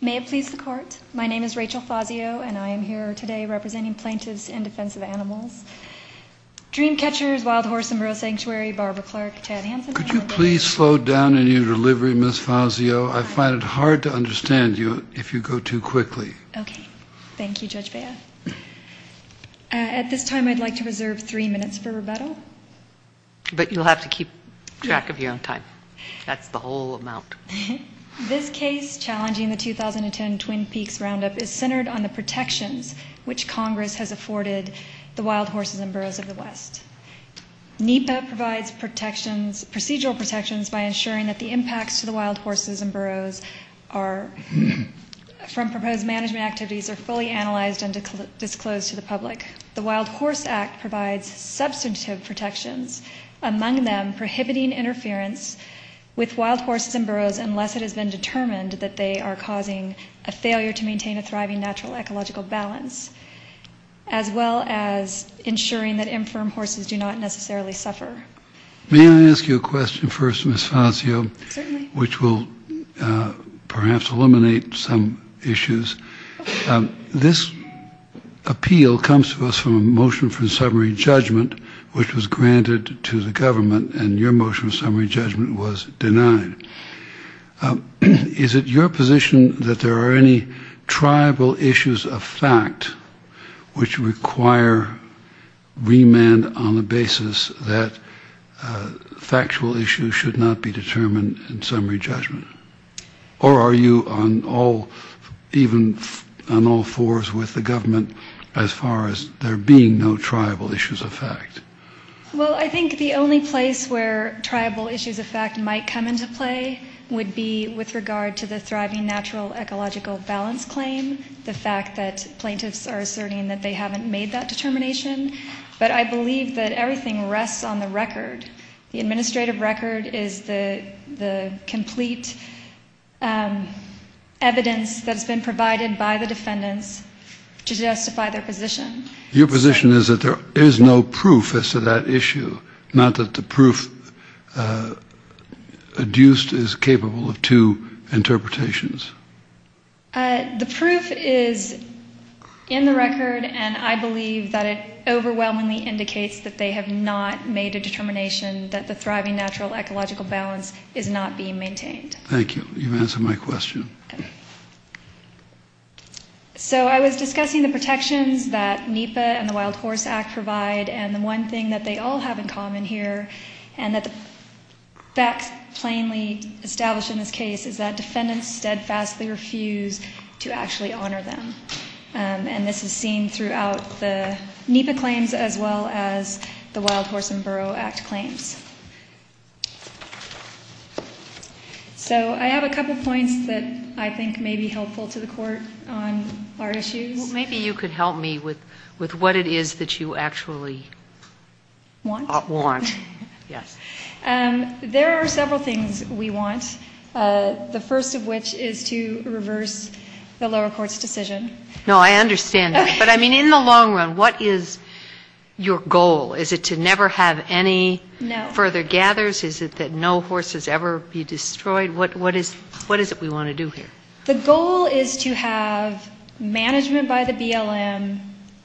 May it please the court, my name is Rachel Fazio and I am here today representing plaintiffs in defense of animals. Dreamcatchers, Wild Horse and Rural Sanctuary, Barbara Clark, Chad Hanson. Could you please slow down in your delivery Miss Fazio, I find it hard to understand you if you go too quickly. Okay, thank you Judge Bea. At this time I'd like to reserve three minutes for rebuttal. But you'll have to keep track of your own time, that's the whole amount. This case challenging the 2010 Twin Peaks Roundup is centered on the protections which Congress has afforded the wild horses and burros of the West. NEPA provides protections, procedural protections, by ensuring that the impacts to the wild horses and burros from proposed management activities are fully analyzed and disclosed to the public. The Wild Horse Act provides substantive protections, among them prohibiting interference with wild burros unless it has been determined that they are causing a failure to maintain a thriving natural ecological balance. As well as ensuring that infirm horses do not necessarily suffer. May I ask you a question first Miss Fazio, which will perhaps eliminate some issues. This appeal comes to us from a motion for summary judgment which was granted to the government and your Is it your position that there are any tribal issues of fact which require remand on the basis that factual issues should not be determined in summary judgment? Or are you on all, even on all fours with the government as far as there being no tribal issues of fact? Well I think the only place where tribal issues of fact might come into play would be with regard to the thriving natural ecological balance claim. The fact that plaintiffs are asserting that they haven't made that determination. But I believe that everything rests on the record. The administrative record is the complete evidence that has been provided by the defendants to justify their position. Your position is that there is no proof as to that issue. Not that the proof adduced is capable of two interpretations. The proof is in the record and I believe that it overwhelmingly indicates that they have not made a determination that the thriving natural ecological balance is not being maintained. Thank you, you've answered my question. So I was discussing the protections that NEPA and the Wild Horse Act provide and the one thing that they all have in common here and that the facts plainly established in this case is that defendants steadfastly refuse to actually honor them. And this is seen throughout the NEPA claims as well as the Wild Horse and Borough Act claims. So I have a couple points that I think may be helpful to the court on our issues. Maybe you could help me with what it is that you actually want. There are several things we want. The first of which is to reverse the lower court's decision. No, I understand that. But I mean in the long run, what is your goal? Is it to never have any further gathers? Is it that no horses ever be destroyed? What is it we want to do here? The goal is to have management by the BLM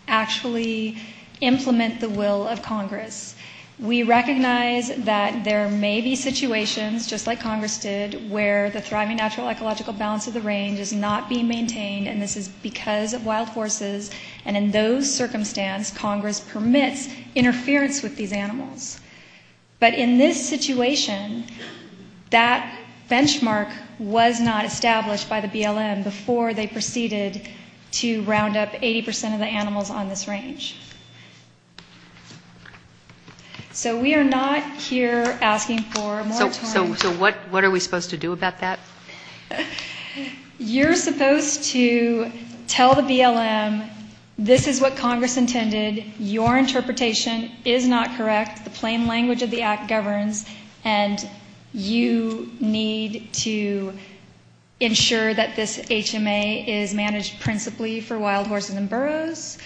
actually implement the will of Congress. We recognize that there may be situations, just like Congress did, where the thriving natural ecological balance of the range is not being maintained and this is because of wild horses and in those circumstances, Congress permits interference with these animals. But in this situation, that benchmark was not to round up 80% of the animals on this range. So we are not here asking for more torrents. So what are we supposed to do about that? You're supposed to tell the BLM this is what Congress intended, your interpretation is not correct, the plain language of the Act governs, and you need to ensure that this HMA is managed principally for wild horses and burros.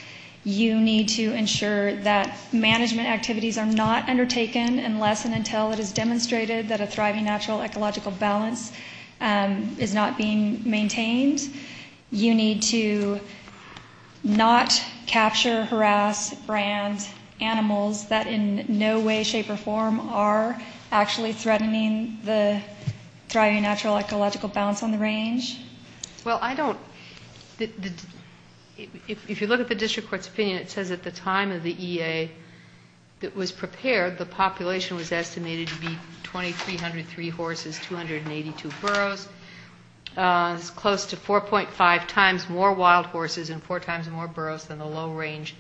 You need to ensure that management activities are not undertaken unless and until it is demonstrated that a thriving natural ecological balance is not being maintained. You need to not capture, harass, brand animals that in no way, shape, or form are actually threatening the thriving natural ecological balance on the range. Well, I don't, if you look at the District Court's opinion, it says at the time of the EA that was prepared, the population was estimated to be 2,303 horses, 282 burros, close to 4.5 times more wild horses and four times more burros than the low range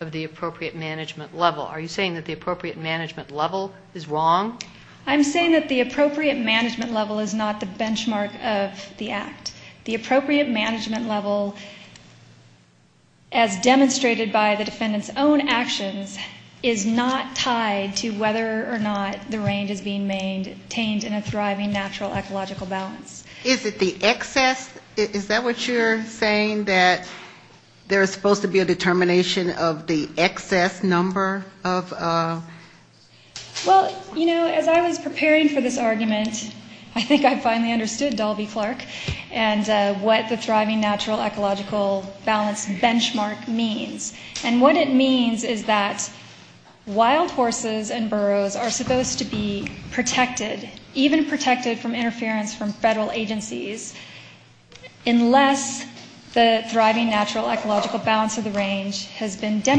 of the appropriate management level. Are you saying that the appropriate management level is wrong? I'm saying that the appropriate management level is not the benchmark of the Act. The appropriate management level, as demonstrated by the defendant's own actions, is not tied to whether or not the range is being maintained in a thriving natural ecological balance. Is it the excess, is that what you're saying, that there's supposed to be a determination of the excess number of... Well, you know, as I was preparing for this argument, I think I finally understood Dalby Clark and what the thriving natural ecological balance benchmark means. And what it means is that wild horses and burros are supposed to be protected, even protected from interference from federal agencies, unless the thriving natural ecological balance of the range has been So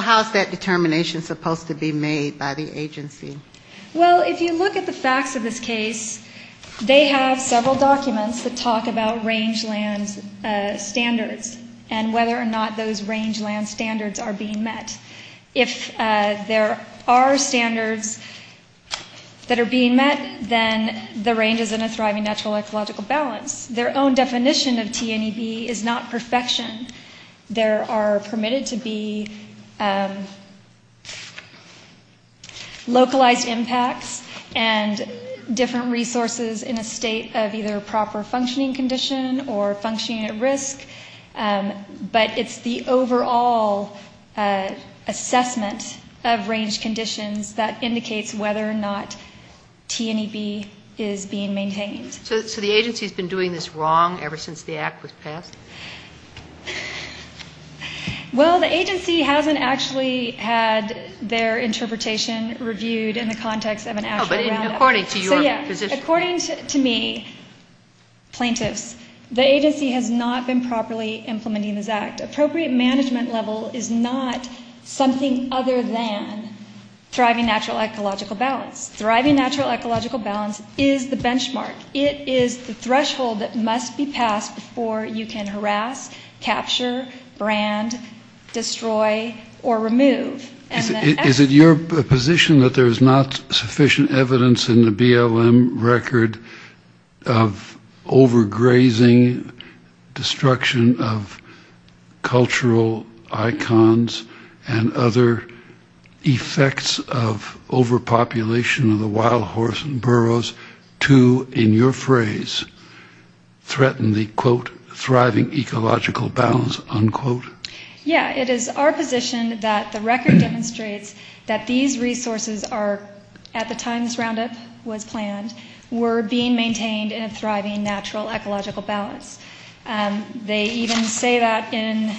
how's that determination supposed to be made by the agency? Well, if you look at the facts of this case, they have several documents that talk about rangeland standards and whether or not those rangeland standards are being met. If there are standards that are being met, then the range is in a thriving natural ecological balance. Their own definition of TNEB is not perfection. There are permitted to be localized impacts and different resources in a state of either proper functioning condition or functioning at risk. But it's the overall assessment of range conditions that indicates whether or not TNEB is being maintained. So the agency's been doing this wrong ever since the act was passed? Well, the agency hasn't actually had their interpretation reviewed in the context of an actual roundup. According to me, plaintiffs, the agency has not been properly implementing this act. Appropriate management level is not something other than thriving natural ecological balance. Thriving natural ecological balance is the benchmark. It is the benchmark that must be passed before you can harass, capture, brand, destroy, or remove. Is it your position that there's not sufficient evidence in the BLM record of overgrazing, destruction of cultural icons, and other effects of overpopulation of the wild horse and burros to, in your phrase, threaten the quote, thriving ecological balance, unquote? Yeah, it is our position that the record demonstrates that these resources are, at the time this roundup was planned, were being maintained in a thriving natural ecological balance. They even say that in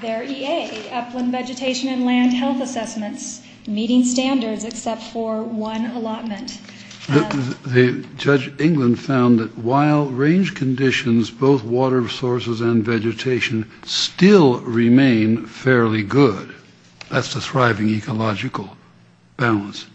their EA, upland vegetation and land health assessments, meeting standards except for one allotment. The judge in England found that while range conditions, both water sources and vegetation, still remain fairly good. That's the thriving ecological balance.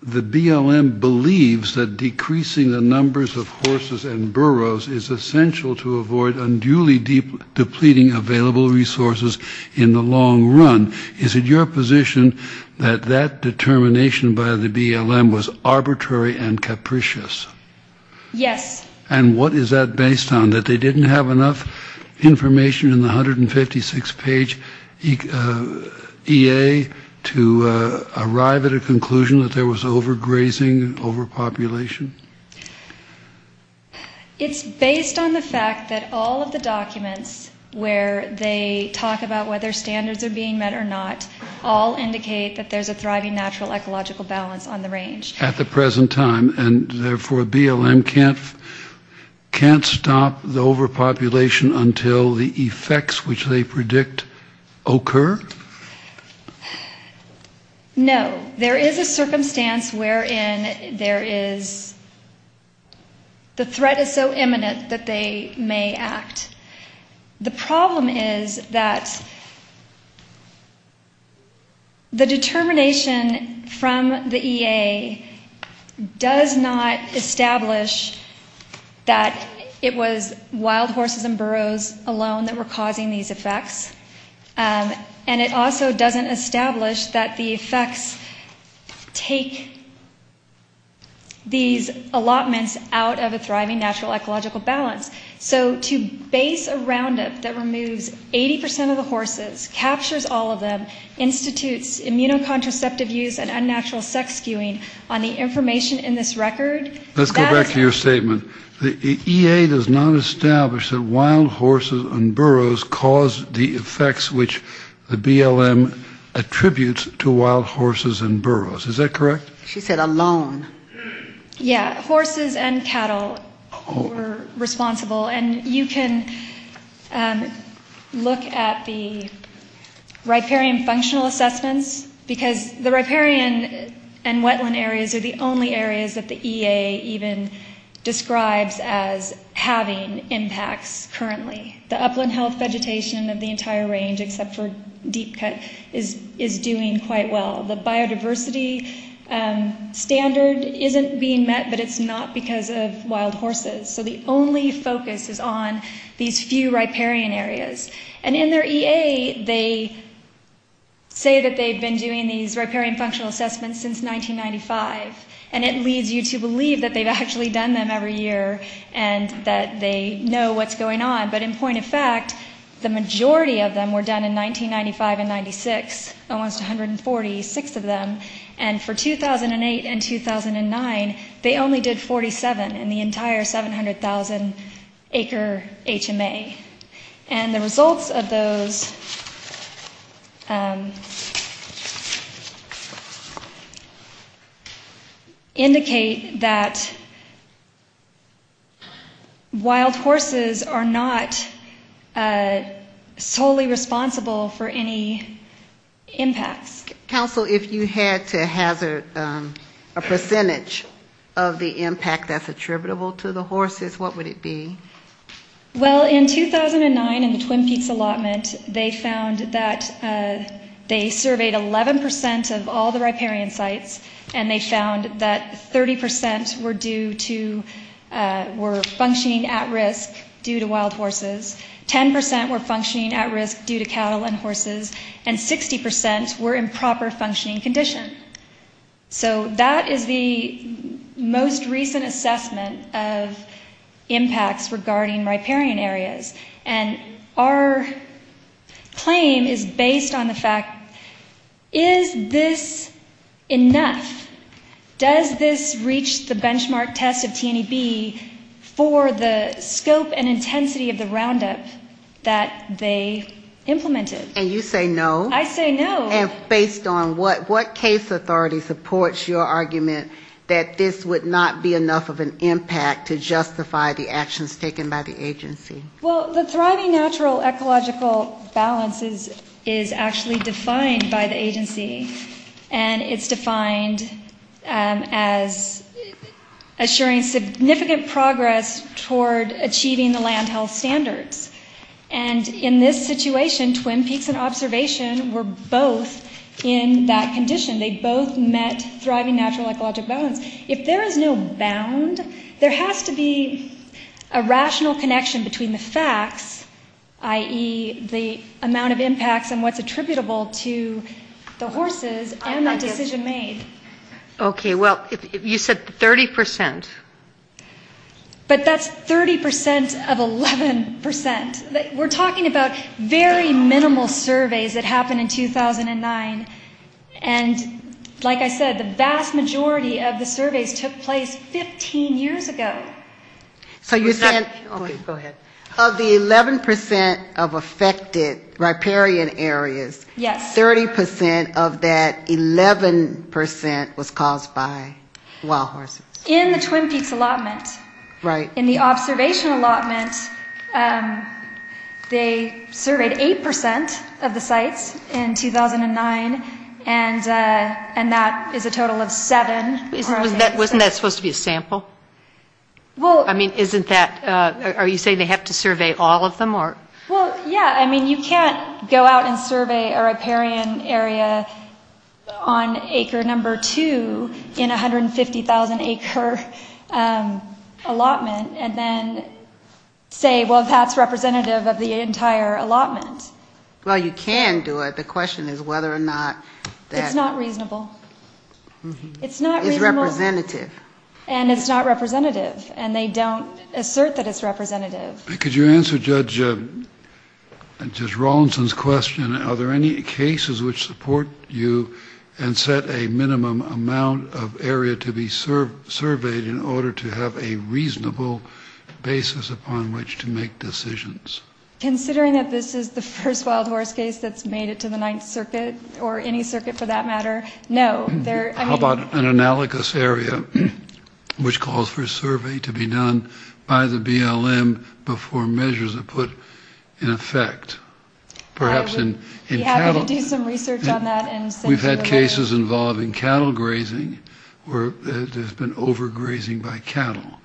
The BLM believes that decreasing the numbers of horses and burros is essential to avoid unduly depleting available resources in the long run. Is it your position that that determination by the BLM was arbitrary and capricious? Yes. And what is that based on, that they didn't have enough information in the 156-page EA to arrive at a conclusion that there was overgrazing, overpopulation? It's based on the fact that all of the documents where they talk about whether standards are being met or not, all indicate that there's a thriving natural ecological balance on the range. At the present time, and therefore BLM can't stop the overpopulation until the effects which they predict occur? No. There is a circumstance wherein there is, the threat is so high, the problem is that the determination from the EA does not establish that it was wild horses and burros alone that were causing these effects, and it also doesn't establish that the effects take these allotments out of a thriving natural ecological balance. So to base a roundup that removes 80% of the horses, captures all of them, institutes immunocontraceptive use and unnatural sex skewing on the information in this record? Let's go back to your statement. The EA does not establish that wild horses and burros caused the effects which the BLM attributes to wild horses and burros. Is that correct? She said alone. Yeah. Horses and cattle were responsible, and you can look at the riparian functional assessments, because the riparian and wetland areas are the only areas that the EA even describes as having impacts currently. The upland health vegetation of the entire range, except for deep cut, is doing quite well. The biodiversity standard isn't being met by wild horses, so the only focus is on these few riparian areas. And in their EA, they say that they've been doing these riparian functional assessments since 1995, and it leads you to believe that they've actually done them every year and that they know what's going on. But in point of fact, the majority of them were done in 1995 and 1996, almost 146 of them, and for 2008 and 2009, they only did 47 in the entire 700,000 acre HMA. And the results of those indicate that wild horses are not solely responsible for any impacts. Counsel, if you had to hazard a percentage of the impact, that's a trick question. If you had to hazard a percentage of the impact attributable to the horses, what would it be? Well, in 2009, in the Twin Peaks allotment, they found that they surveyed 11 percent of all the riparian sites, and they found that 30 percent were functioning at risk due to wild horses, 10 percent were functioning at risk due to the allotment of impacts regarding riparian areas. And our claim is based on the fact, is this enough? Does this reach the benchmark test of TNEB for the scope and intensity of the roundup that they implemented? And you say no? I say no. And based on what case authority supports your argument that this would not be enough of an impact to justify the actions taken by the agency? Well, the thriving natural ecological balance is actually defined by the agency, and it's defined as assuring significant progress toward achieving the land health standards. And in this situation, Twin Peaks and Observation were both in that condition. They both met thriving natural ecological balance. If there is no bound, there has to be a rational connection between the facts, i.e., the amount of impacts and what's attributable to the horses and the decision made. Okay. Well, you said 30 percent. But that's 30 percent of 11 percent. We're talking about very minimal surveys that happened in 2009, and like I said, the vast majority of the surveys took place 15 years ago. So you're saying, okay, go ahead. Of the 11 percent of affected riparian areas, 30 percent of that 11 percent was caused by wild animals. Right. In the Observation allotment, they surveyed 8 percent of the sites in 2009, and that is a total of 7. Wasn't that supposed to be a sample? I mean, isn't that are you saying they have to survey all of them? Well, yeah. I mean, you can't go out and survey a riparian area on acre number two in 150,000 acre allotment and then say, well, that's representative of the entire allotment. Well, you can do it. The question is whether or not that... It's not reasonable. It's representative. And it's not representative, and they don't assert that it's representative. Could you answer Judge Rawlinson's question? Are there any cases which support you and set a minimum amount of area to be surveyed in order to have a reasonable basis upon which to make decisions? Considering that this is the first wild horse case that's made it to the Ninth Circuit, or any circuit for that matter, how about an analogous area which calls for a survey to be done by the BLM before measures are put in effect? I would be happy to do some research on that. We've had cases involving cattle grazing where there's been overgrazing by cattle.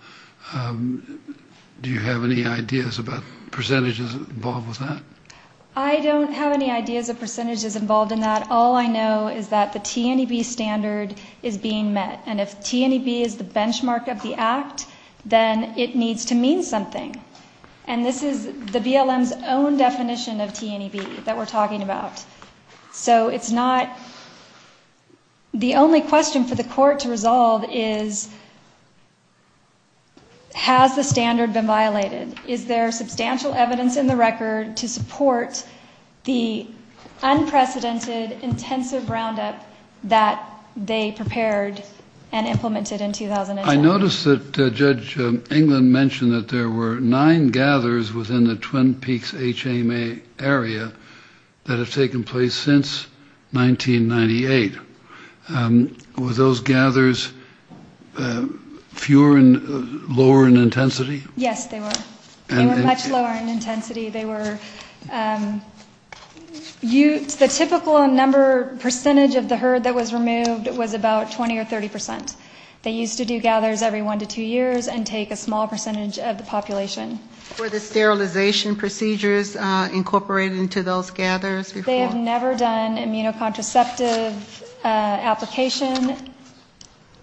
Do you have any ideas about percentages involved with that? I don't have any ideas of percentages involved in that. All I know is that the T&EB standard is being met, and if T&EB is the benchmark of the act, then it needs to mean something. And this is the BLM's own definition of T&EB that we're talking about. So it's not... The only question for the court to resolve is, has the standard been violated? Is there substantial evidence in the record to support the unprecedented intensive roundup that they prepared and implemented in 2009? I noticed that Judge England mentioned that there were nine gathers within the Twin Peaks HMA area that have taken place since 1998. Were those gathers fewer and lower in intensity? Yes, they were. They were much lower in intensity. The typical percentage of the herd that was removed was about 20 or 30 percent. They used to do gathers every one to two years and take a small percentage of the population. Were the sterilization procedures incorporated into those gathers? They have never done immunocontraceptive application.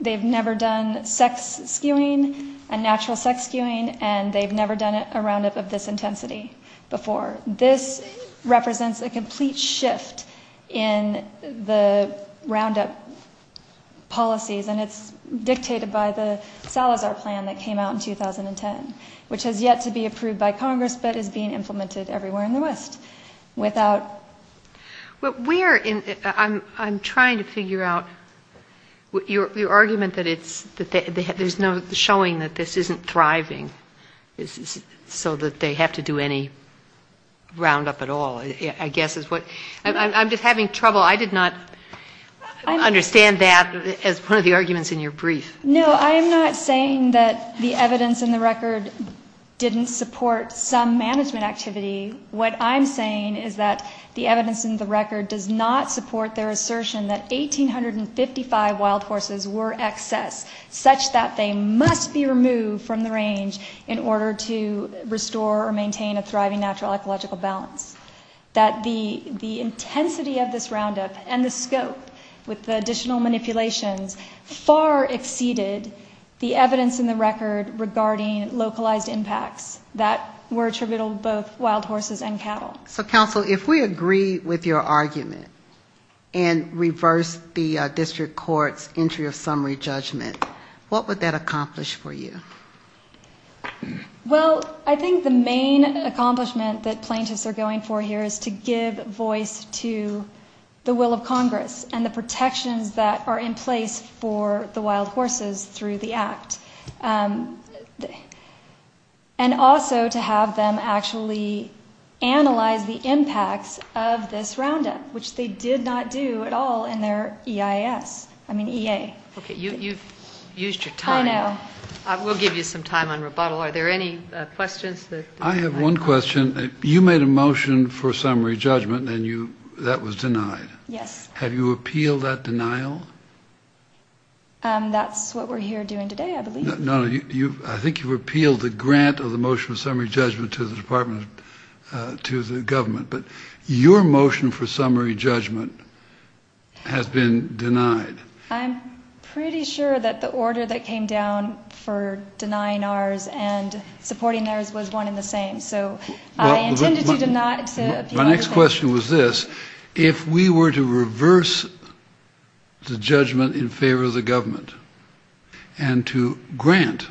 They've never done sex skewing, a natural sex skewing, and they've never done a roundup of this intensity before. This represents a complete shift in the roundup policies, and it's dictated by the Salazar plan that came out in 2010, which has yet to be approved by Congress, but is being implemented everywhere in the West. I'm trying to figure out your argument that there's no showing that this isn't thriving, so that they have to do any roundup at all, I guess. I'm just having trouble. I did not understand that as one of the arguments in your brief. No, I'm not saying that the evidence in the record didn't support some management activity. What I'm saying is that the evidence in the record does not support their assertion that 1,855 wild horses were excess, such that they must be removed from the range in order to restore or maintain a thriving natural ecological balance. That the intensity of this roundup and the scope with the additional manipulations far exceeded the evidence in the record regarding localized impacts that were attributable to both wild horses and cattle. So, counsel, if we agree with your argument and reverse the district court's entry of summary judgment, what would that accomplish for you? Well, I think the main accomplishment that plaintiffs are going for here is to give voice to the will of Congress and the protections that are in place for the wild horses through the act. And also to have them actually analyze the impacts of this roundup, which they did not do at all in their EIS, I mean EA. Okay, you've used your time. I know. We'll give you some time on rebuttal. Are there any questions? I have one question. You made a motion for summary judgment and that was denied. Yes. Have you appealed that denial? That's what we're here doing today, I believe. No, no, I think you've appealed the grant of the motion of summary judgment to the department, to the government. But your motion for summary judgment has been denied. I'm pretty sure that the order that came down for denying ours and supporting theirs was one in the same. My next question was this. If we were to reverse the judgment in favor of the government and to grant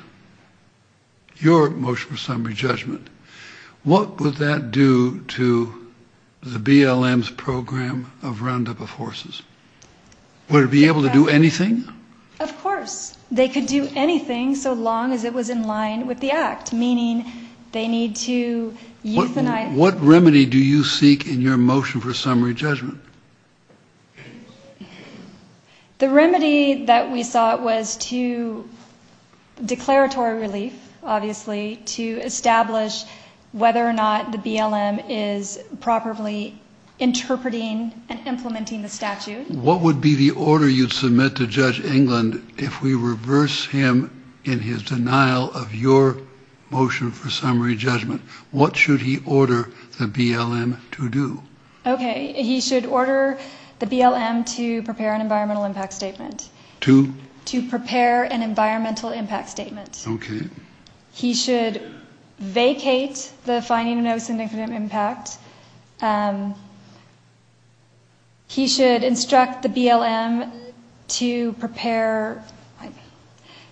your motion for summary judgment, what would that do to the BLM's program of roundup of horses? Would it be able to do anything? Of course, they could do anything so long as it was in line with the act, meaning they need to euthanize. What remedy do you seek in your motion for summary judgment? The remedy that we sought was to, declaratory relief, obviously, to establish whether or not the BLM is properly interpreting and implementing the statute. What would be the order you'd submit to Judge England if we reverse him in his denial of your motion for summary judgment? What should he order the BLM to do? Okay, he should order the BLM to prepare an environmental impact statement. To? To prepare an environmental impact statement. Okay. He should vacate the finding of no syndicative impact. He should instruct the BLM to prepare,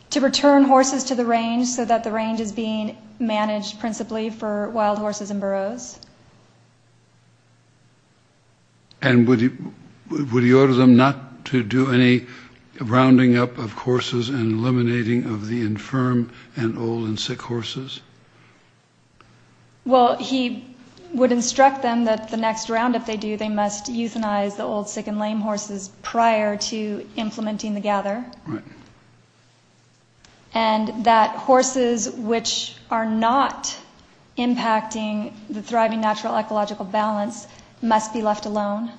to return horses to the range so that the range is being managed principally for wild horses and burros. And would he order them not to do any rounding up of horses and eliminating of the infirm? And old and sick horses? Well, he would instruct them that the next round, if they do, they must euthanize the old, sick, and lame horses prior to implementing the gather. Right. And that horses which are not impacting the thriving natural ecological balance must be left alone.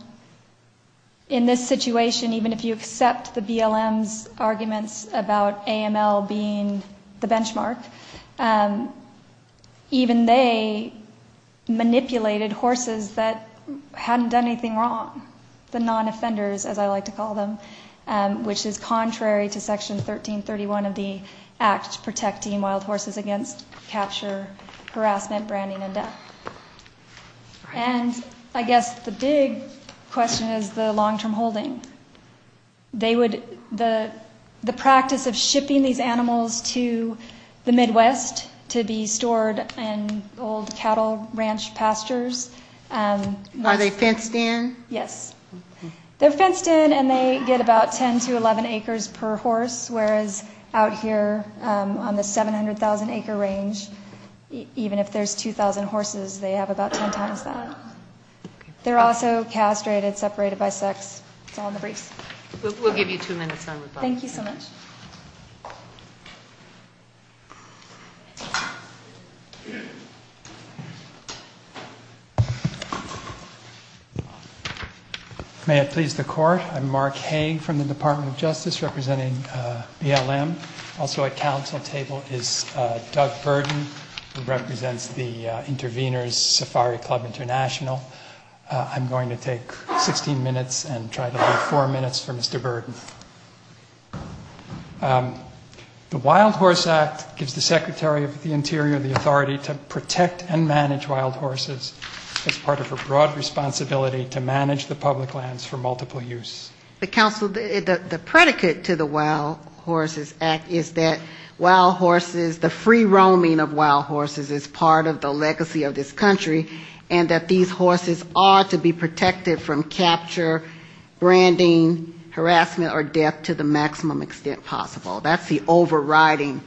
In this situation, even if you accept the BLM's arguments about AML being, you know, not a good thing, the benchmark, even they manipulated horses that hadn't done anything wrong. The non-offenders, as I like to call them, which is contrary to Section 1331 of the Act protecting wild horses against capture, harassment, branding, and death. And I guess the big question is the long-term holding. They would, the practice of shipping these animals to the Midwest to be stored in old cattle ranch pastures. Are they fenced in? Yes. They're fenced in and they get about 10 to 11 acres per horse, whereas out here on the 700,000 acre range, even if there's 2,000 horses, they have about 10 times that. They're also castrated, separated by sex. It's all in the briefs. Thank you so much. May it please the Court. I'm Mark Hay from the Department of Justice representing BLM. Also at Council table is Doug Burden, who represents the Intervenors Safari Club International. I'm going to take 16 minutes and try to leave four minutes for Mr. Burden. The Wild Horse Act gives the Secretary of the Interior the authority to protect and manage wild horses as part of a broad responsibility to manage the public lands for multiple use. The Council, the predicate to the Wild Horses Act is that wild horses, the free roaming of wild horses is part of the legacy of this country, and that these horses are to be protected from capture, branding, harassment or death to the maximum extent possible. That's the overriding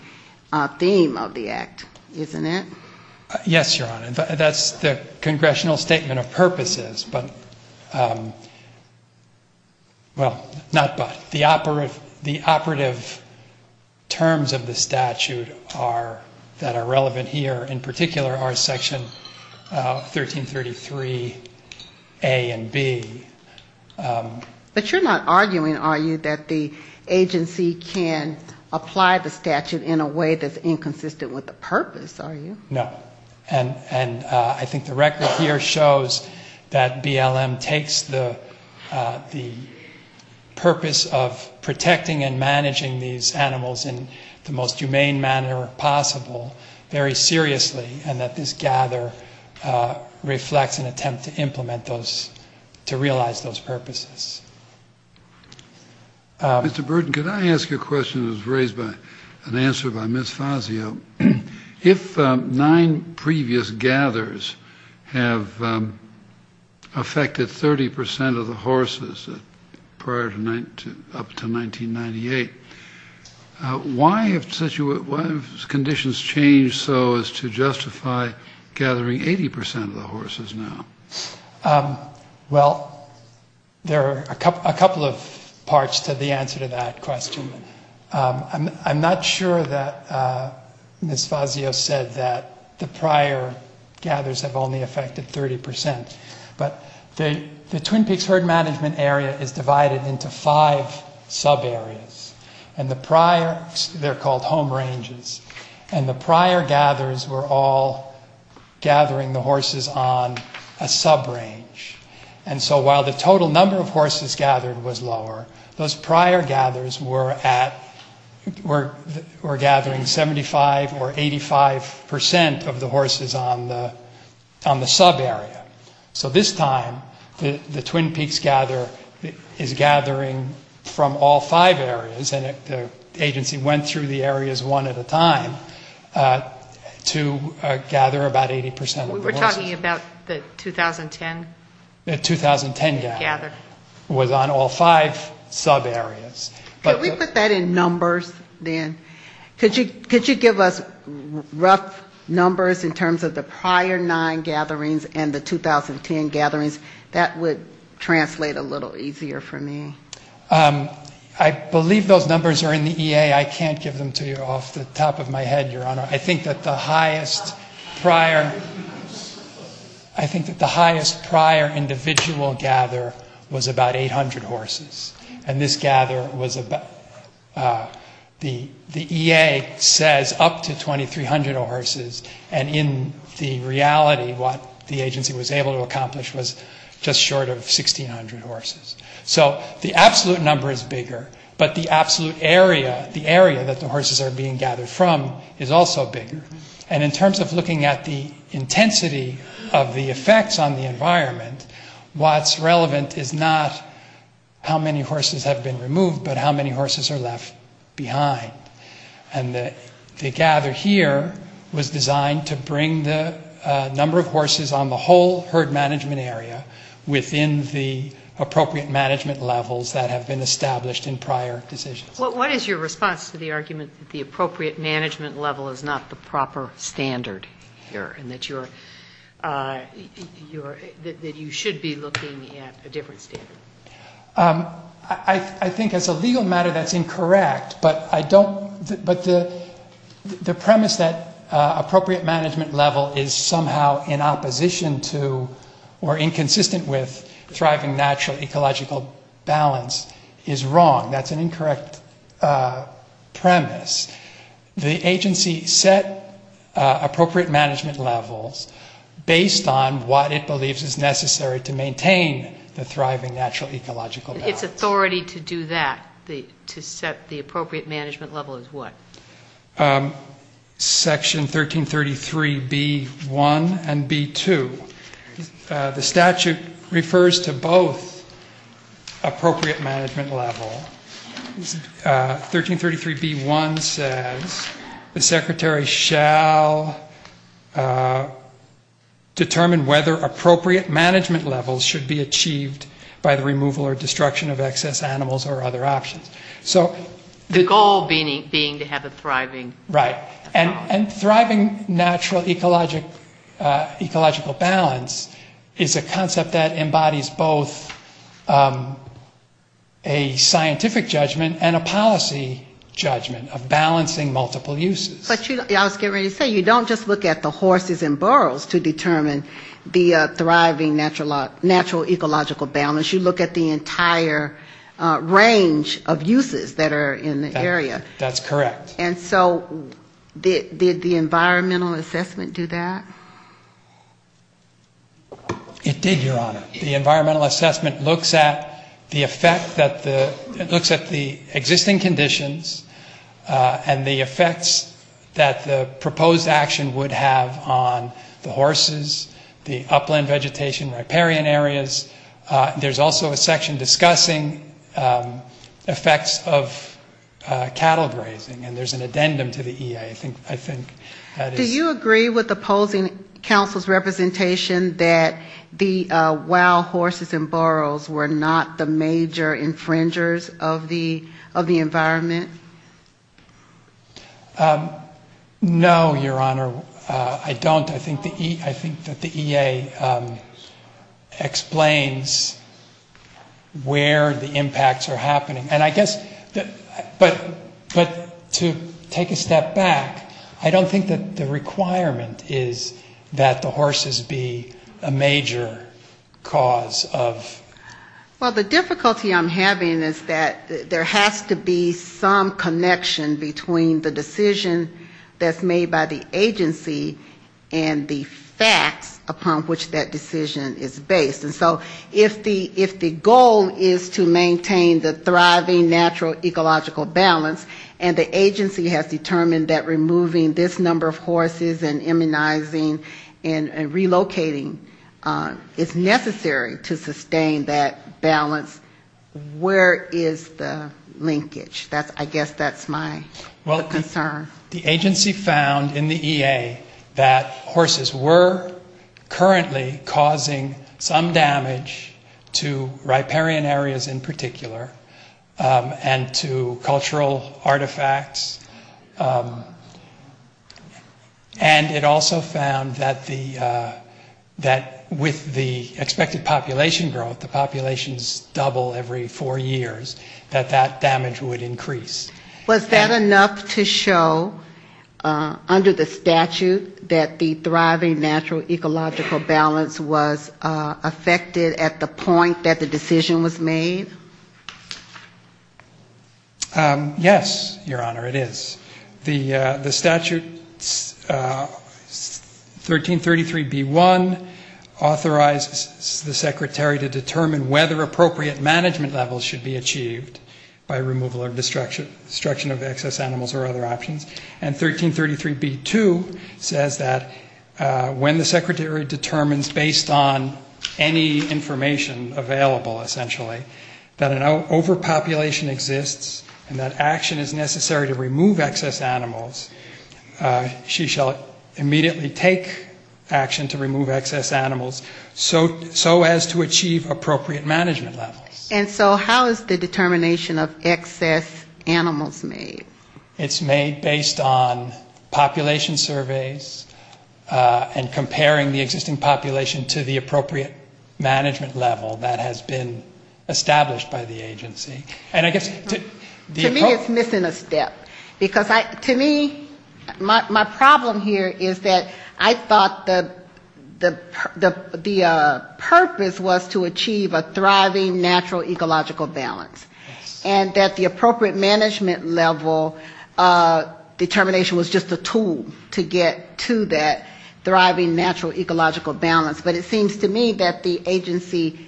theme of the Act, isn't it? Yes, Your Honor. That's the Congressional statement of purposes, but, well, not but. The operative terms of the statute that are relevant here, in particular, are Section 1333. A and B. But you're not arguing, are you, that the agency can apply the statute in a way that's inconsistent with the purpose, are you? No. And I think the record here shows that BLM takes the purpose of protecting and managing these animals in the most humane manner possible very seriously, and that this gather reflects an attempt to implement those, to realize those purposes. Mr. Burton, could I ask you a question that was raised by, an answer by Ms. Fazio? If nine previous gathers have affected 30 percent of the horses prior to, up to 1998, why have such a, why have such a large number of those conditions changed so as to justify gathering 80 percent of the horses now? Well, there are a couple of parts to the answer to that question. I'm not sure that Ms. Fazio said that the prior gathers have only affected 30 percent, but the Twin Peaks Herd Management Area is divided into five sub-areas. And the prior, they're called home ranges, and the prior gathers were all gathering the horses on a sub-range. And so while the total number of horses gathered was lower, those prior gathers were at, were gathering 75 or 85 percent of the horses on the, on the sub-area. So this time, the Twin Peaks gather is gathering from all five areas. And the agency went through the areas one at a time to gather about 80 percent of the horses. We were talking about the 2010? The 2010 gather was on all five sub-areas. Could we put that in numbers, then? Could you give us rough numbers in terms of the prior nine gatherings and the 2010 gatherings? That would translate a little easier for me. I believe those numbers are in the EA. I can't give them to you off the top of my head, Your Honor. I think that the highest prior, I think that the highest prior individual gather was about 800 horses. And this gather was about, the EA says up to 2,300 horses. And in the reality, what the agency was able to accomplish was just short of 1,600 horses. So the absolute number is bigger, but the absolute area, the area that the horses are being gathered from is also bigger. And in terms of looking at the intensity of the effects on the environment, what's relevant is not how many horses have been removed, but how many horses are left behind. And the gather here was designed to bring the number of horses on the whole herd management area within the appropriate management levels that have been established in prior decisions. What is your response to the argument that the appropriate management level is not the proper standard here and that you should be looking at a different standard? I think as a legal matter that's incorrect, but I don't, but the premise that appropriate management level is somehow in opposition to or inconsistent with thriving natural ecological balance is wrong. That's an incorrect premise. The agency set appropriate management levels based on what it believes is necessary to maintain the thriving natural ecological balance. Its authority to do that, to set the appropriate management level is what? Section 1333B1 and B2. The statute refers to both appropriate management level. 1333B1 says the secretary shall determine whether appropriate management levels should be achieved by the remainder of the year. The goal being to have a thriving balance. Right. And thriving natural ecological balance is a concept that embodies both a scientific judgment and a policy judgment of balancing multiple uses. But I was getting ready to say, you don't just look at the horses and burros to determine the thriving natural ecological balance. You look at the entire range of uses that are in the area. That's correct. And so did the environmental assessment do that? It did, Your Honor. The environmental assessment looks at the effect that the, it looks at the existing conditions and the effects that the proposed action would have on the horses, the upland vegetation, riparian areas. There's also a section discussing effects of cattle grazing, and there's an addendum to the EA, I think. Do you agree with opposing counsel's representation that the wild horses and burros were not the major infringers of the environment? No, Your Honor, I don't. I think that the EA explains where the impacts are happening. And I guess, but to take a step back, I don't think that the requirement is that the horses be a major cause of... Well, the difficulty I'm having is that there has to be some connection between the decision that's made by the agency and the environmental assessment. And the facts upon which that decision is based. And so if the goal is to maintain the thriving natural ecological balance, and the agency has determined that removing this number of horses and immunizing and relocating is necessary to sustain that balance, where is the linkage? I guess that's my concern. The fact that the horses were currently causing some damage to riparian areas in particular, and to cultural artifacts, and it also found that with the expected population growth, the populations double every four years, that that damage would increase. Was that enough to show under the statute that the thriving natural ecological balance was affected at the point that the decision was made? Yes, Your Honor, it is. The statute 1333B1 authorizes the secretary to determine whether appropriate management levels should be achieved by removal or destruction. And 1333B2 says that when the secretary determines based on any information available, essentially, that an overpopulation exists and that action is necessary to remove excess animals, she shall immediately take action to remove excess animals so as to achieve appropriate management levels. And so how is the determination of excess animals made? It's made based on population surveys and comparing the existing population to the appropriate management level that has been established by the agency. And I guess the... To me it's missing a step. Because to me, my problem here is that I thought the purpose was to achieve a thriving natural ecological balance. And that the appropriate management level determination was just a tool to get to that thriving natural ecological balance. But it seems to me that the agency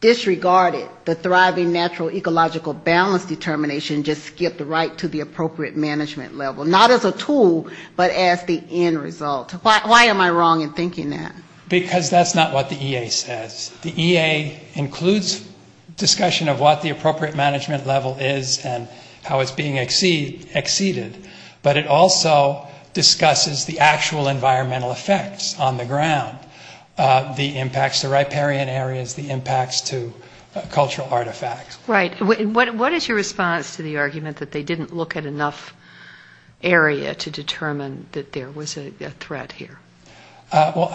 disregarded the thriving natural ecological balance determination, just skipped right to the appropriate management level. Not as a tool, but as the end result. Why am I wrong in thinking that? Because that's not what the EA says. It's a discussion of what the appropriate management level is and how it's being exceeded. But it also discusses the actual environmental effects on the ground, the impacts to riparian areas, the impacts to cultural artifacts. Right. And what is your response to the argument that they didn't look at enough area to determine that there was a threat here? Well,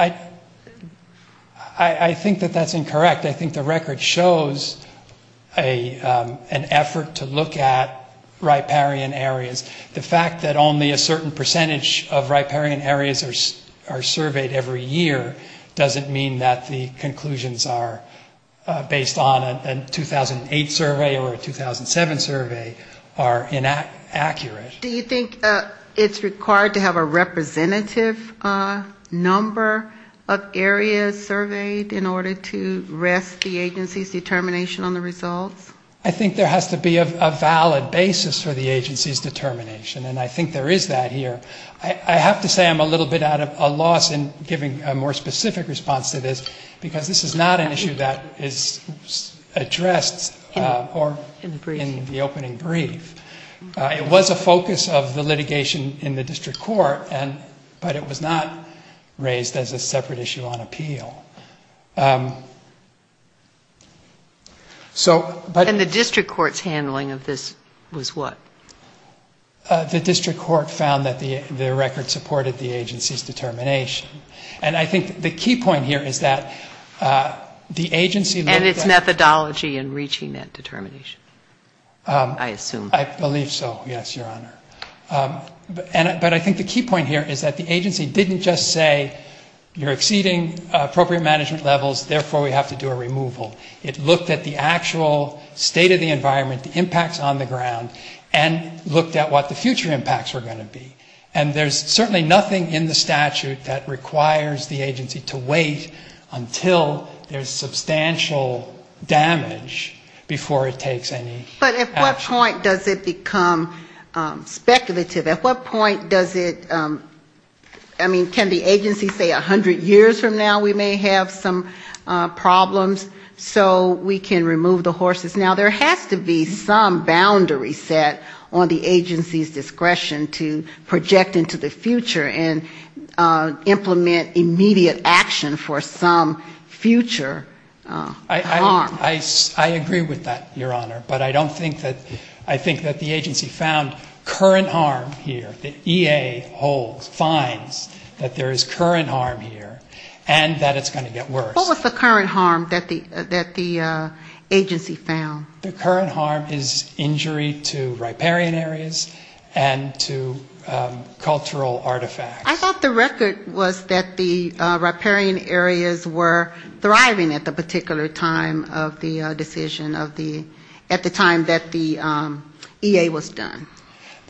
I think that that's incorrect. I think the record shows an effort to look at riparian areas. The fact that only a certain percentage of riparian areas are surveyed every year doesn't mean that the conclusions are based on a 2008 survey or a 2007 survey are inaccurate. Do you think it's required to have a representative number of areas surveyed in order to rest the agency's determination on the results? I think there has to be a valid basis for the agency's determination. And I think there is that here. I have to say I'm a little bit at a loss in giving a more specific response to this, because this is not an issue that is addressed in the opening brief. It was a focus of the litigation in the district court, but it was not raised as a separate issue on appeal. And the district court's handling of this was what? The district court found that the record supported the agency's determination. And I think the key point here is that the agency looked at... I believe so, yes, Your Honor. But I think the key point here is that the agency didn't just say you're exceeding appropriate management levels, therefore we have to do a removal. It looked at the actual state of the environment, the impacts on the ground, and looked at what the future impacts were going to be. And there's certainly nothing in the statute that requires the agency to wait until there's substantial damage before it takes any action. But at what point does it become speculative? At what point does it, I mean, can the agency say 100 years from now we may have some problems so we can remove the horses? Now, there has to be some boundary set on the agency's discretion to project into the future and implement immediate action for some future harm. I agree with that, Your Honor, but I don't think that, I think that the agency found current harm here, that EA holds, finds that there is current harm here, and that it's going to get worse. What was the current harm that the agency found? The current harm is injury to riparian areas and to cultural artifacts. I thought the record was that the riparian areas were thriving at the particular time. At the time of the decision of the, at the time that the EA was done.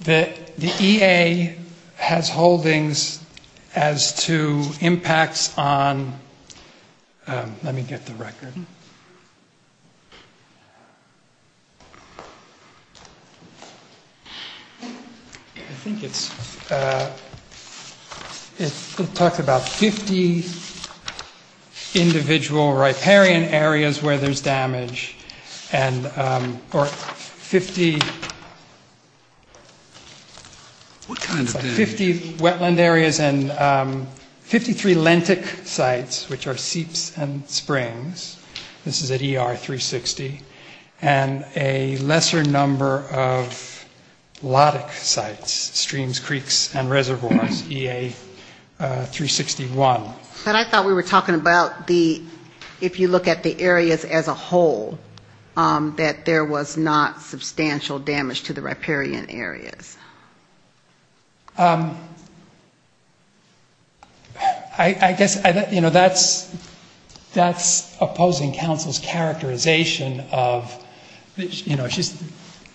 The EA has holdings as to impacts on, let me get the record. I think it's, it talks about 50 individual riparian areas were affected by the EA. 50 areas where there's damage, and, or 50, 50 wetland areas and 53 Lentic sites, which are seeps and springs, this is at ER 360, and a lesser number of lotic sites, streams, creeks, and reservoirs, EA 361. But I thought we were talking about the, if you look at the areas as a whole, that there was not substantial damage to the riparian areas. I guess, you know, that's, that's opposing counsel's characterization of, you know,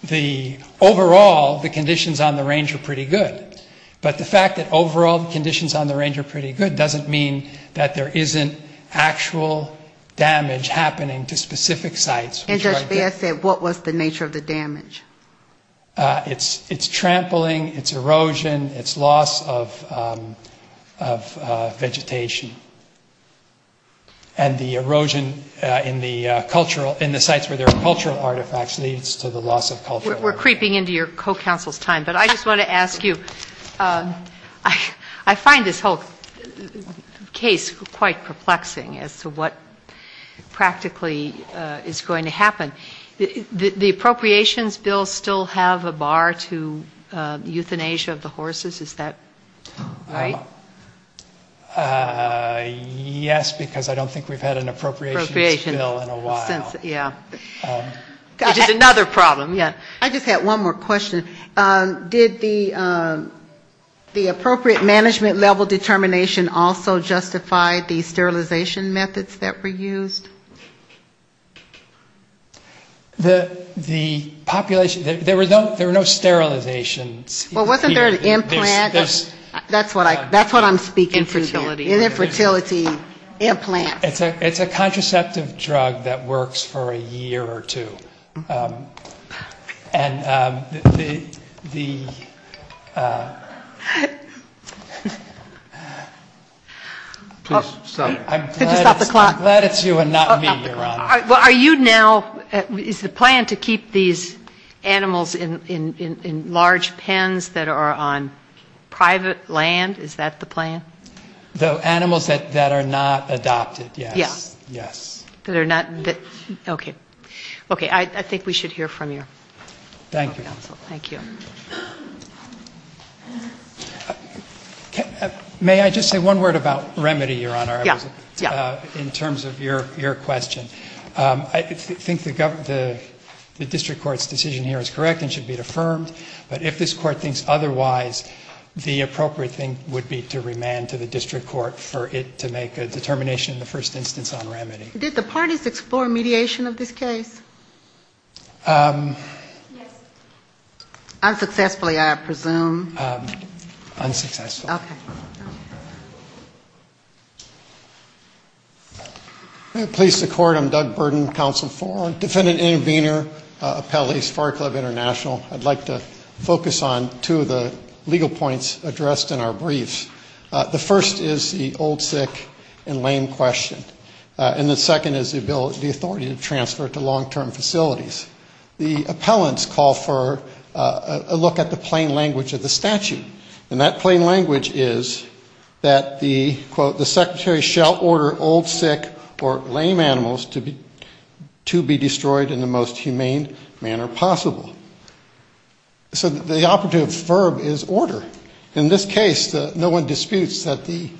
the overall, the conditions on the range are pretty good. But the fact that overall the conditions on the range are pretty good doesn't mean that there isn't actual damage happening to specific sites. And Judge Baird said, what was the nature of the damage? It's trampling, it's erosion, it's loss of vegetation. And the erosion in the cultural, in the sites where there are cultural artifacts leads to the loss of cultural artifacts. We're creeping into your co-counsel's time, but I just want to ask you, I find this whole case quite perplexing as to what practically is going to happen. The appropriations bill still have a bar to euthanasia of the horses, is that right? Yes, because I don't think we've had an appropriations bill in a while. Yeah. Just another problem, yeah. I just had one more question. Did the appropriate management level determination also justify the sterilization methods that were used? The population, there were no sterilizations. Well, wasn't there an implant? That's what I'm speaking to. Infertility implants. It's a contraceptive drug that works for a year or two. And the... I'm glad it's you and not me, Your Honor. Well, are you now, is the plan to keep these animals in large pens that are on private land, is that the plan? The animals that are not adopted, yes. Okay. I think we should hear from your co-counsel. May I just say one word about remedy, Your Honor, in terms of your question? I think the district court's decision here is correct and should be affirmed, but if this court thinks otherwise, the appropriate thing would be to remand to the district court. For it to make a determination in the first instance on remedy. Did the parties explore mediation of this case? Yes. Unsuccessfully, I presume. Unsuccessfully. Okay. Please support. I'm Doug Burden, Counsel for Defendant Intervenor, Appellees, Fire Club International. I'd like to focus on two of the legal points addressed in our briefs. The first is the old, sick and lame question. And the second is the ability, the authority to transfer to long-term facilities. The appellants call for a look at the plain language of the statute. And that plain language is that the, quote, the secretary shall order old, sick or lame animals to be destroyed in the most humane manner possible. So the operative verb is order. In this case, no one disputes that the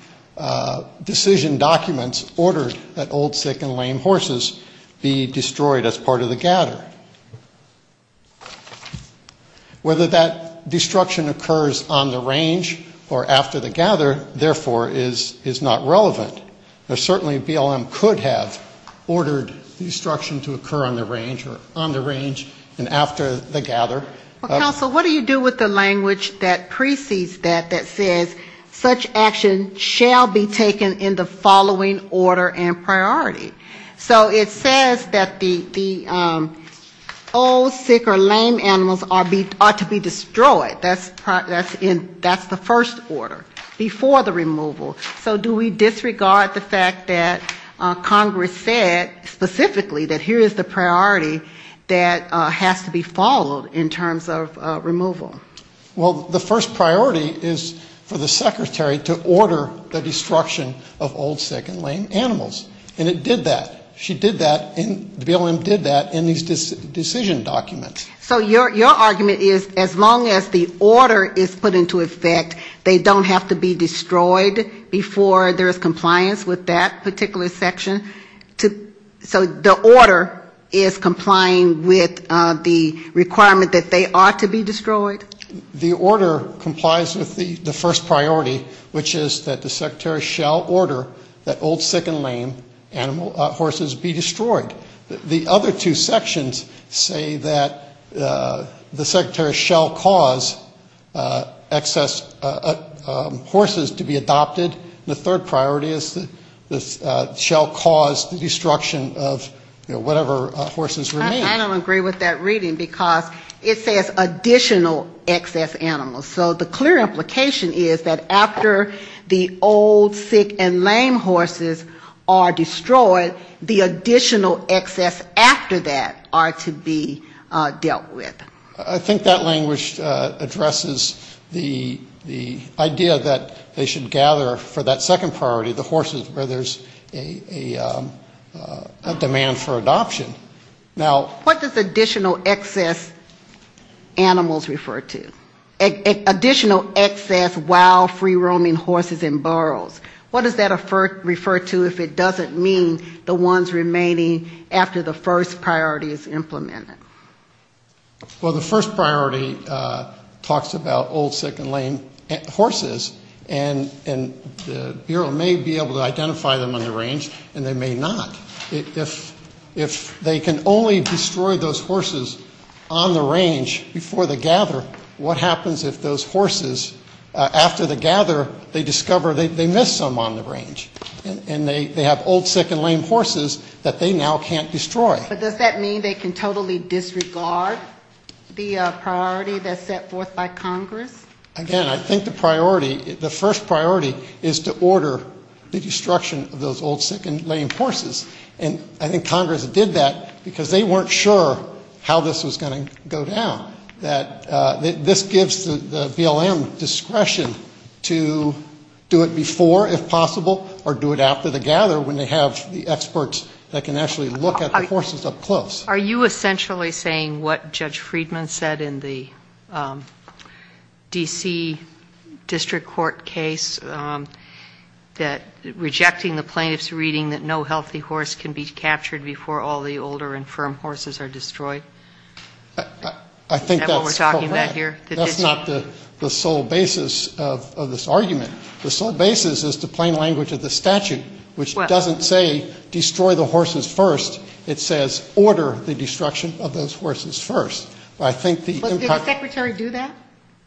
decision documents ordered that old, sick and lame horses be destroyed as part of the gather. Whether that destruction occurs on the range or after the gather, therefore, is not relevant. Certainly BLM could have ordered destruction to occur on the range or on the range and after the gather. Counsel, what do you do with the language that precedes that that says such action shall be taken in the following order and priority? So it says that the old, sick or lame animals are to be destroyed. That's the first order before the removal. So do we disregard the fact that Congress said specifically that here is the priority that has to be followed in terms of removal? Well, the first priority is for the secretary to order the destruction of old, sick and lame animals. And it did that. She did that and BLM did that in these decision documents. So your argument is as long as the order is put into effect, they don't have to be destroyed before there is compliance with that particular section? So the order is complying with the requirement that they are to be destroyed? The order complies with the first priority, which is that the secretary shall order that old, sick and lame animals be destroyed. The other two sections say that the secretary shall cause excess horses to be adopted, and the third priority is that shall cause the destruction of, you know, whatever horses remain. I don't agree with that reading because it says additional excess animals. So the clear implication is that after the old, sick and lame horses are destroyed, they are to be removed. After the old, sick and lame horses are destroyed, the additional excess after that are to be dealt with. I think that language addresses the idea that they should gather for that second priority, the horses, where there's a demand for adoption. Now, what does additional excess animals refer to? Additional excess wild free-roaming horses and burros. What does that refer to if it doesn't mean the ones remaining after the first priority is implemented? Well, the first priority talks about old, sick and lame horses, and the bureau may be able to identify them on the range, and they may not. If they can only destroy those horses on the range before the gather, what happens if those horses, after the gather, they discover they missed something? They miss some on the range, and they have old, sick and lame horses that they now can't destroy. But does that mean they can totally disregard the priority that's set forth by Congress? Again, I think the priority, the first priority is to order the destruction of those old, sick and lame horses. And I think Congress did that because they weren't sure how this was going to go down, that this gives the BLM discretion to do it before, if possible, or do it after the gather when they have the experts that can actually look at the horses up close. Are you essentially saying what Judge Friedman said in the D.C. District Court case, that rejecting the plaintiff's reading that no healthy horse can be captured before all the older and firm horses are destroyed? I think that's not the sole basis of this argument. The sole basis is the plain language of the statute, which doesn't say destroy the horses first. It says order the destruction of those horses first. Did the secretary do that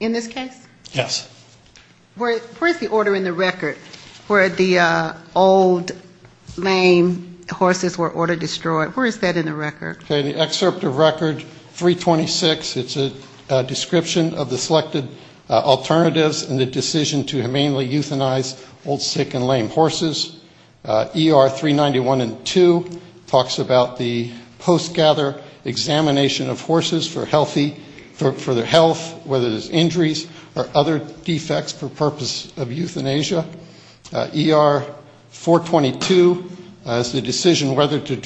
in this case? Yes. Where's the order in the record where the old, lame horses were order destroyed? Where is that in the record? In the excerpt of record 326, it's a description of the selected alternatives and the decision to humanely euthanize old, sick and lame horses. ER 391 and 2 talks about the post-gather examination of horses for healthy, for their health, whether there's injuries or other defects for purpose of euthanasia. ER 422 is the decision whether to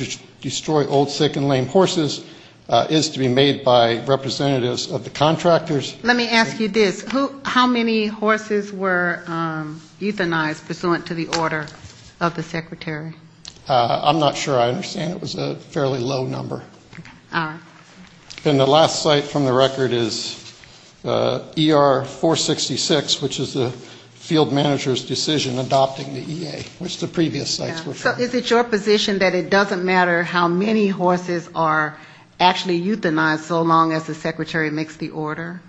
destroy old, sick and lame horses. It is to be made by representatives of the contractors. Let me ask you this. How many horses were euthanized pursuant to the order of the secretary? I'm not sure. I understand it was a fairly low number. All right. And the last site from the record is ER 466, which is the field manager's decision adopting the EA, which the previous sites were from. So is it your position that it doesn't matter how many horses are actually euthanized so long as the secretary makes the order?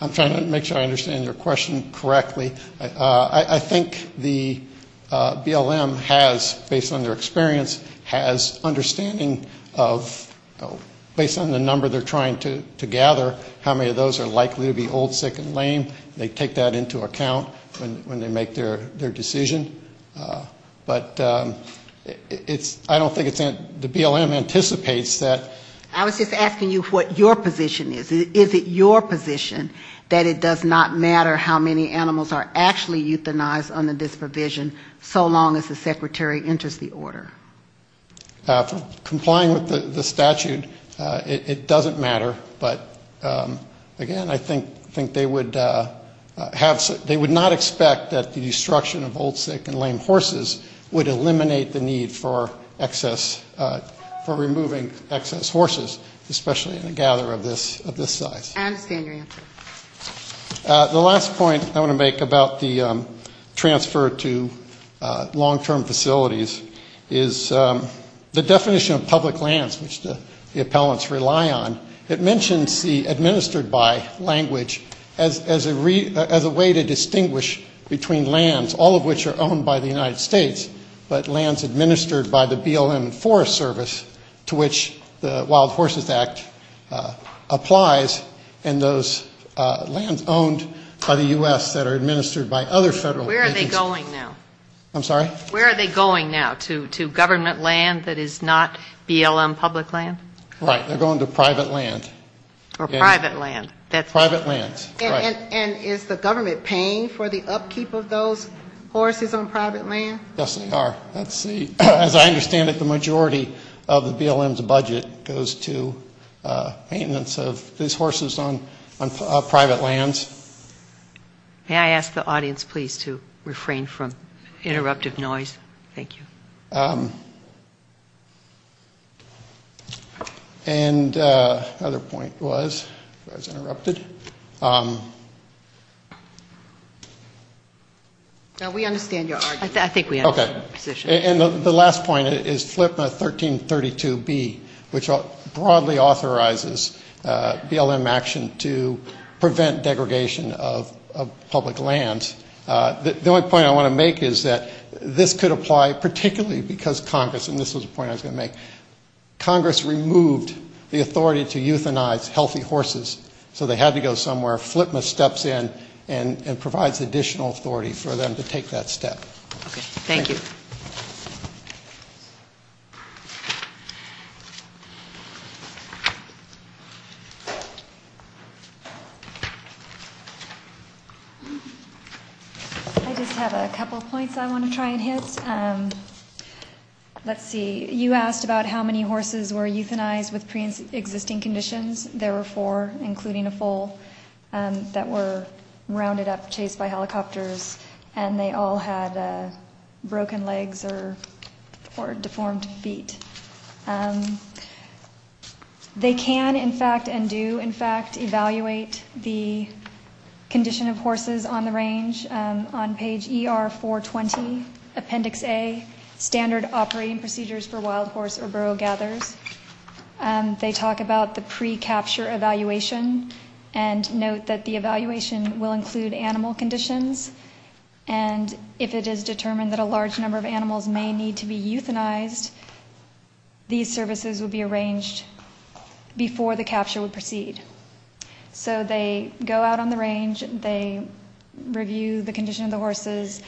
I'm trying to make sure I understand your question correctly. I think the BLM has, based on their experience, has understanding of, based on the number they're trying to gather, how many of those are likely to be old, sick and lame. They take that into account when they make their decision. But it's, I don't think it's, the BLM anticipates that. I was just asking you what your position is. Is it your position that it does not matter how many animals are actually euthanized under this provision so long as the secretary enters the order? Complying with the statute, it doesn't matter. But, again, I think they would have, they would not expect that the destruction of old, sick and lame horses would eliminate the need for excess, for removing excess horses, especially in a gather of this size. I understand your answer. The last point I want to make about the transfer to long-term facilities is the definition of public lands, which the appellants rely on. It mentions the administered by language as a way to distinguish between lands, all of which are owned by the United States, but lands administered by the BLM Forest Service, to which the Wild Horses Act applies, and those lands owned by the U.S. that are administered by other federal agencies. Where are they going now? I'm sorry? Where are they going now, to government land that is not BLM public land? Right. They're going to private land. Or private land. Private lands. Right. And is the government paying for the upkeep of those horses on private land? Yes, they are. That's the, as I understand it, the majority of the BLM's budget goes to maintenance of these horses on private lands. May I ask the audience, please, to refrain from interruptive noise? Thank you. And the other point was, if I was interrupted? No, we understand your argument. I think we understand your position. Okay. And the last point is FLIPMA 1332B, which broadly authorizes BLM action to prevent degradation of public lands. The only point I want to make is that this could apply particularly because Congress, and this was a point I was going to make, Congress removes the term, removed the authority to euthanize healthy horses. So they had to go somewhere. FLIPMA steps in and provides additional authority for them to take that step. Okay. Thank you. I just have a couple points I want to try and hit. First, let's see, you asked about how many horses were euthanized with pre-existing conditions. There were four, including a foal, that were rounded up, chased by helicopters, and they all had broken legs or deformed feet. They can, in fact, and do, in fact, evaluate the condition of horses on the range on page ER420, appendix A. Standard operating procedures for wild horse or burro gathers. They talk about the pre-capture evaluation and note that the evaluation will include animal conditions. And if it is determined that a large number of animals may need to be euthanized, these services will be arranged before the capture would proceed. So they go out on the range, they review the condition of the horses,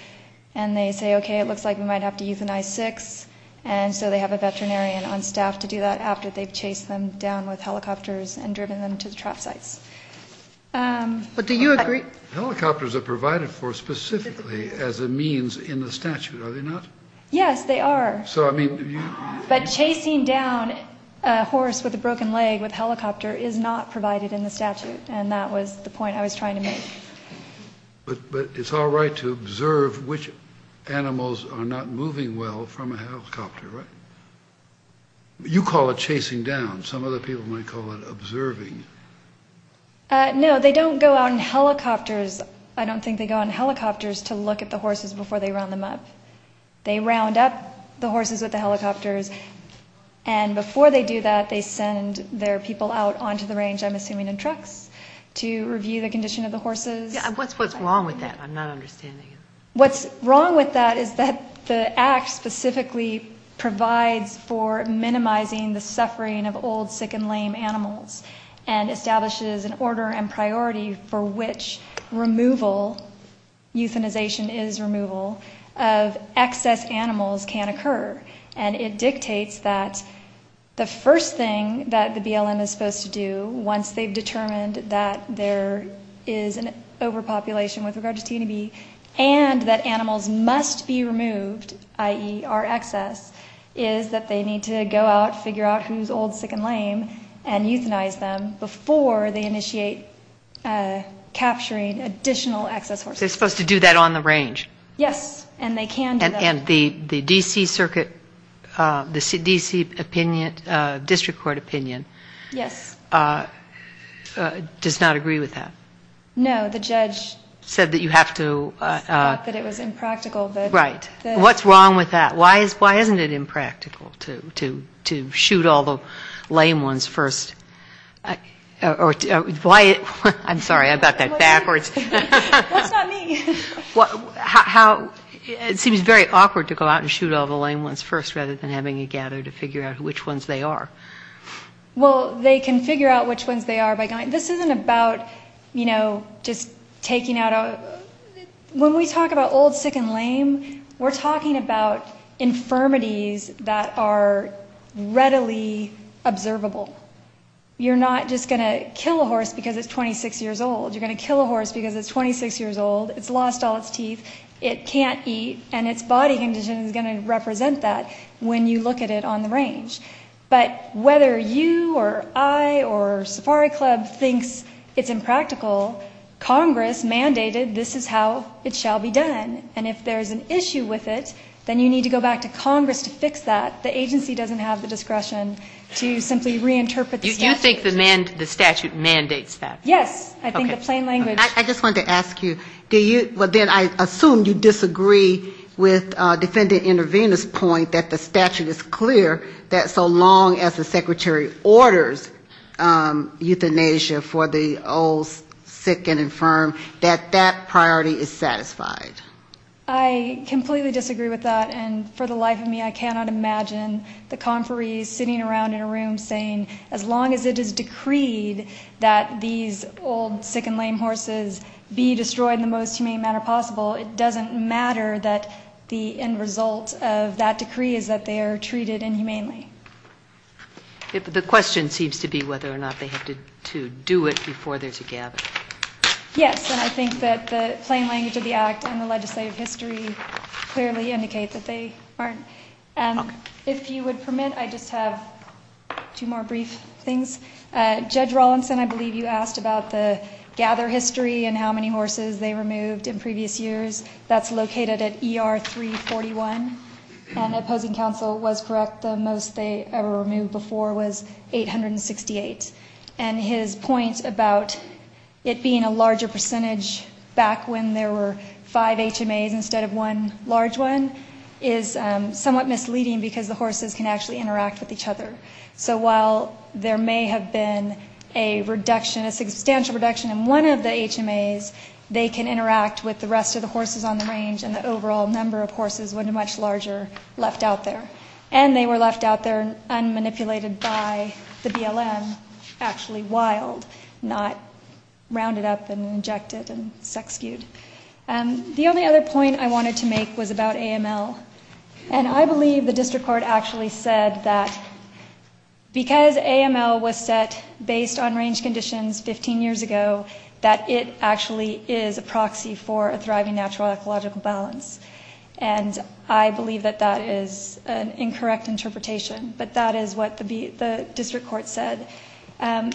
and they say, okay, it looks like we've got a good horse. We might have to euthanize six, and so they have a veterinarian on staff to do that after they've chased them down with helicopters and driven them to the trap sites. But do you agree... Helicopters are provided for specifically as a means in the statute, are they not? Yes, they are. So, I mean... But chasing down a horse with a broken leg with a helicopter is not provided in the statute, and that was the point I was trying to make. But it's all right to observe which animals are not moving well from a helicopter, right? You call it chasing down, some other people might call it observing. No, they don't go out in helicopters, I don't think they go out in helicopters to look at the horses before they round them up. They round up the horses with the helicopters, and before they do that, they send their people out onto the range, I'm assuming in trucks, to review the condition of the horses. Yeah, what's wrong with that? I'm not understanding it. What's wrong with that is that the Act specifically provides for minimizing the suffering of old, sick, and lame animals, and establishes an order and priority for which removal, euthanization is removal, of excess animals can occur. And it dictates that the first thing that the BLM is supposed to do, once they've determined that there is an excess of animals, overpopulation with regard to T and E, and that animals must be removed, i.e., are excess, is that they need to go out, figure out who's old, sick, and lame, and euthanize them before they initiate capturing additional excess horses. They're supposed to do that on the range? Yes, and they can do that. And the D.C. Circuit, the D.C. opinion, District Court opinion, does not agree with that? No, the judge said that you have to... Thought that it was impractical. Right. What's wrong with that? Why isn't it impractical to shoot all the lame ones first? I'm sorry, I got that backwards. That's not me. It seems very awkward to go out and shoot all the lame ones first, rather than having you gather to figure out which ones they are. Well, they can figure out which ones they are by going... This isn't about, you know, just taking out... When we talk about old, sick, and lame, we're talking about infirmities that are readily observable. You're not just going to kill a horse because it's 26 years old. You're going to kill a horse because it's 26 years old, it's lost all its teeth, it can't eat, and its body condition is going to represent that when you look at it on the range. But whether you or I or Safari Club thinks it's impractical, Congress mandated this is how it shall be done. And if there's an issue with it, then you need to go back to Congress to fix that. The agency doesn't have the discretion to simply reinterpret the statute. You think the statute mandates that? Yes, I think the plain language... I just wanted to ask you, do you... Do you agree with Defendant Intervenor's point that the statute is clear, that so long as the secretary orders euthanasia for the old, sick, and infirm, that that priority is satisfied? I completely disagree with that, and for the life of me, I cannot imagine the conferees sitting around in a room saying, as long as it is decreed that these old, sick, and lame horses be destroyed in the most humane manner possible, it doesn't matter that the end result of that decree is that they are treated inhumanely. The question seems to be whether or not they have to do it before there's a gathering. Yes, and I think that the plain language of the Act and the legislative history clearly indicate that they aren't. If you would permit, I just have two more brief things. Judge Rawlinson, I believe you asked about the gather history and how many horses they removed in previous years. That's located at ER 341, and Opposing Counsel was correct. The most they ever removed before was 868. And his point about it being a larger percentage back when there were five HMAs instead of one large one is somewhat misleading because the horses can actually interact with each other. So while there may have been a reduction, a substantial reduction in one of the HMAs, they can interact with the rest of the horses on the range and the overall number of horses would have been much larger left out there. And they were left out there unmanipulated by the BLM, actually wild, not rounded up and injected and sex-skewed. The only other point I wanted to make was about AML. And I believe the District Court actually said that because AML was set based on range conditions 15 years ago, that it actually is a proxy for a thriving natural ecological balance. And I believe that that is an incorrect interpretation. But that is what the District Court said. I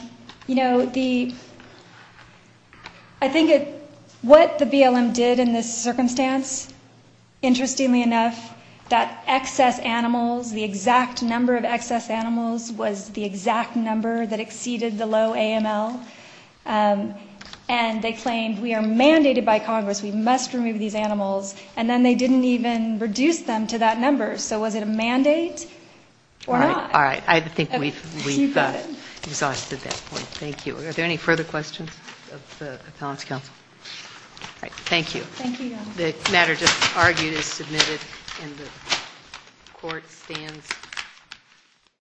think what the BLM did in this circumstance, interestingly enough, that excess animals, the exact number of excess animals was the exact number that exceeded the low AML. And they claimed, we are mandated by Congress, we must remove these animals. And then they didn't even reduce them to that number. So was it a mandate or not? All right. I think we've exhausted that point. Thank you. Are there any further questions of the Appellants' Council? All right. Thank you.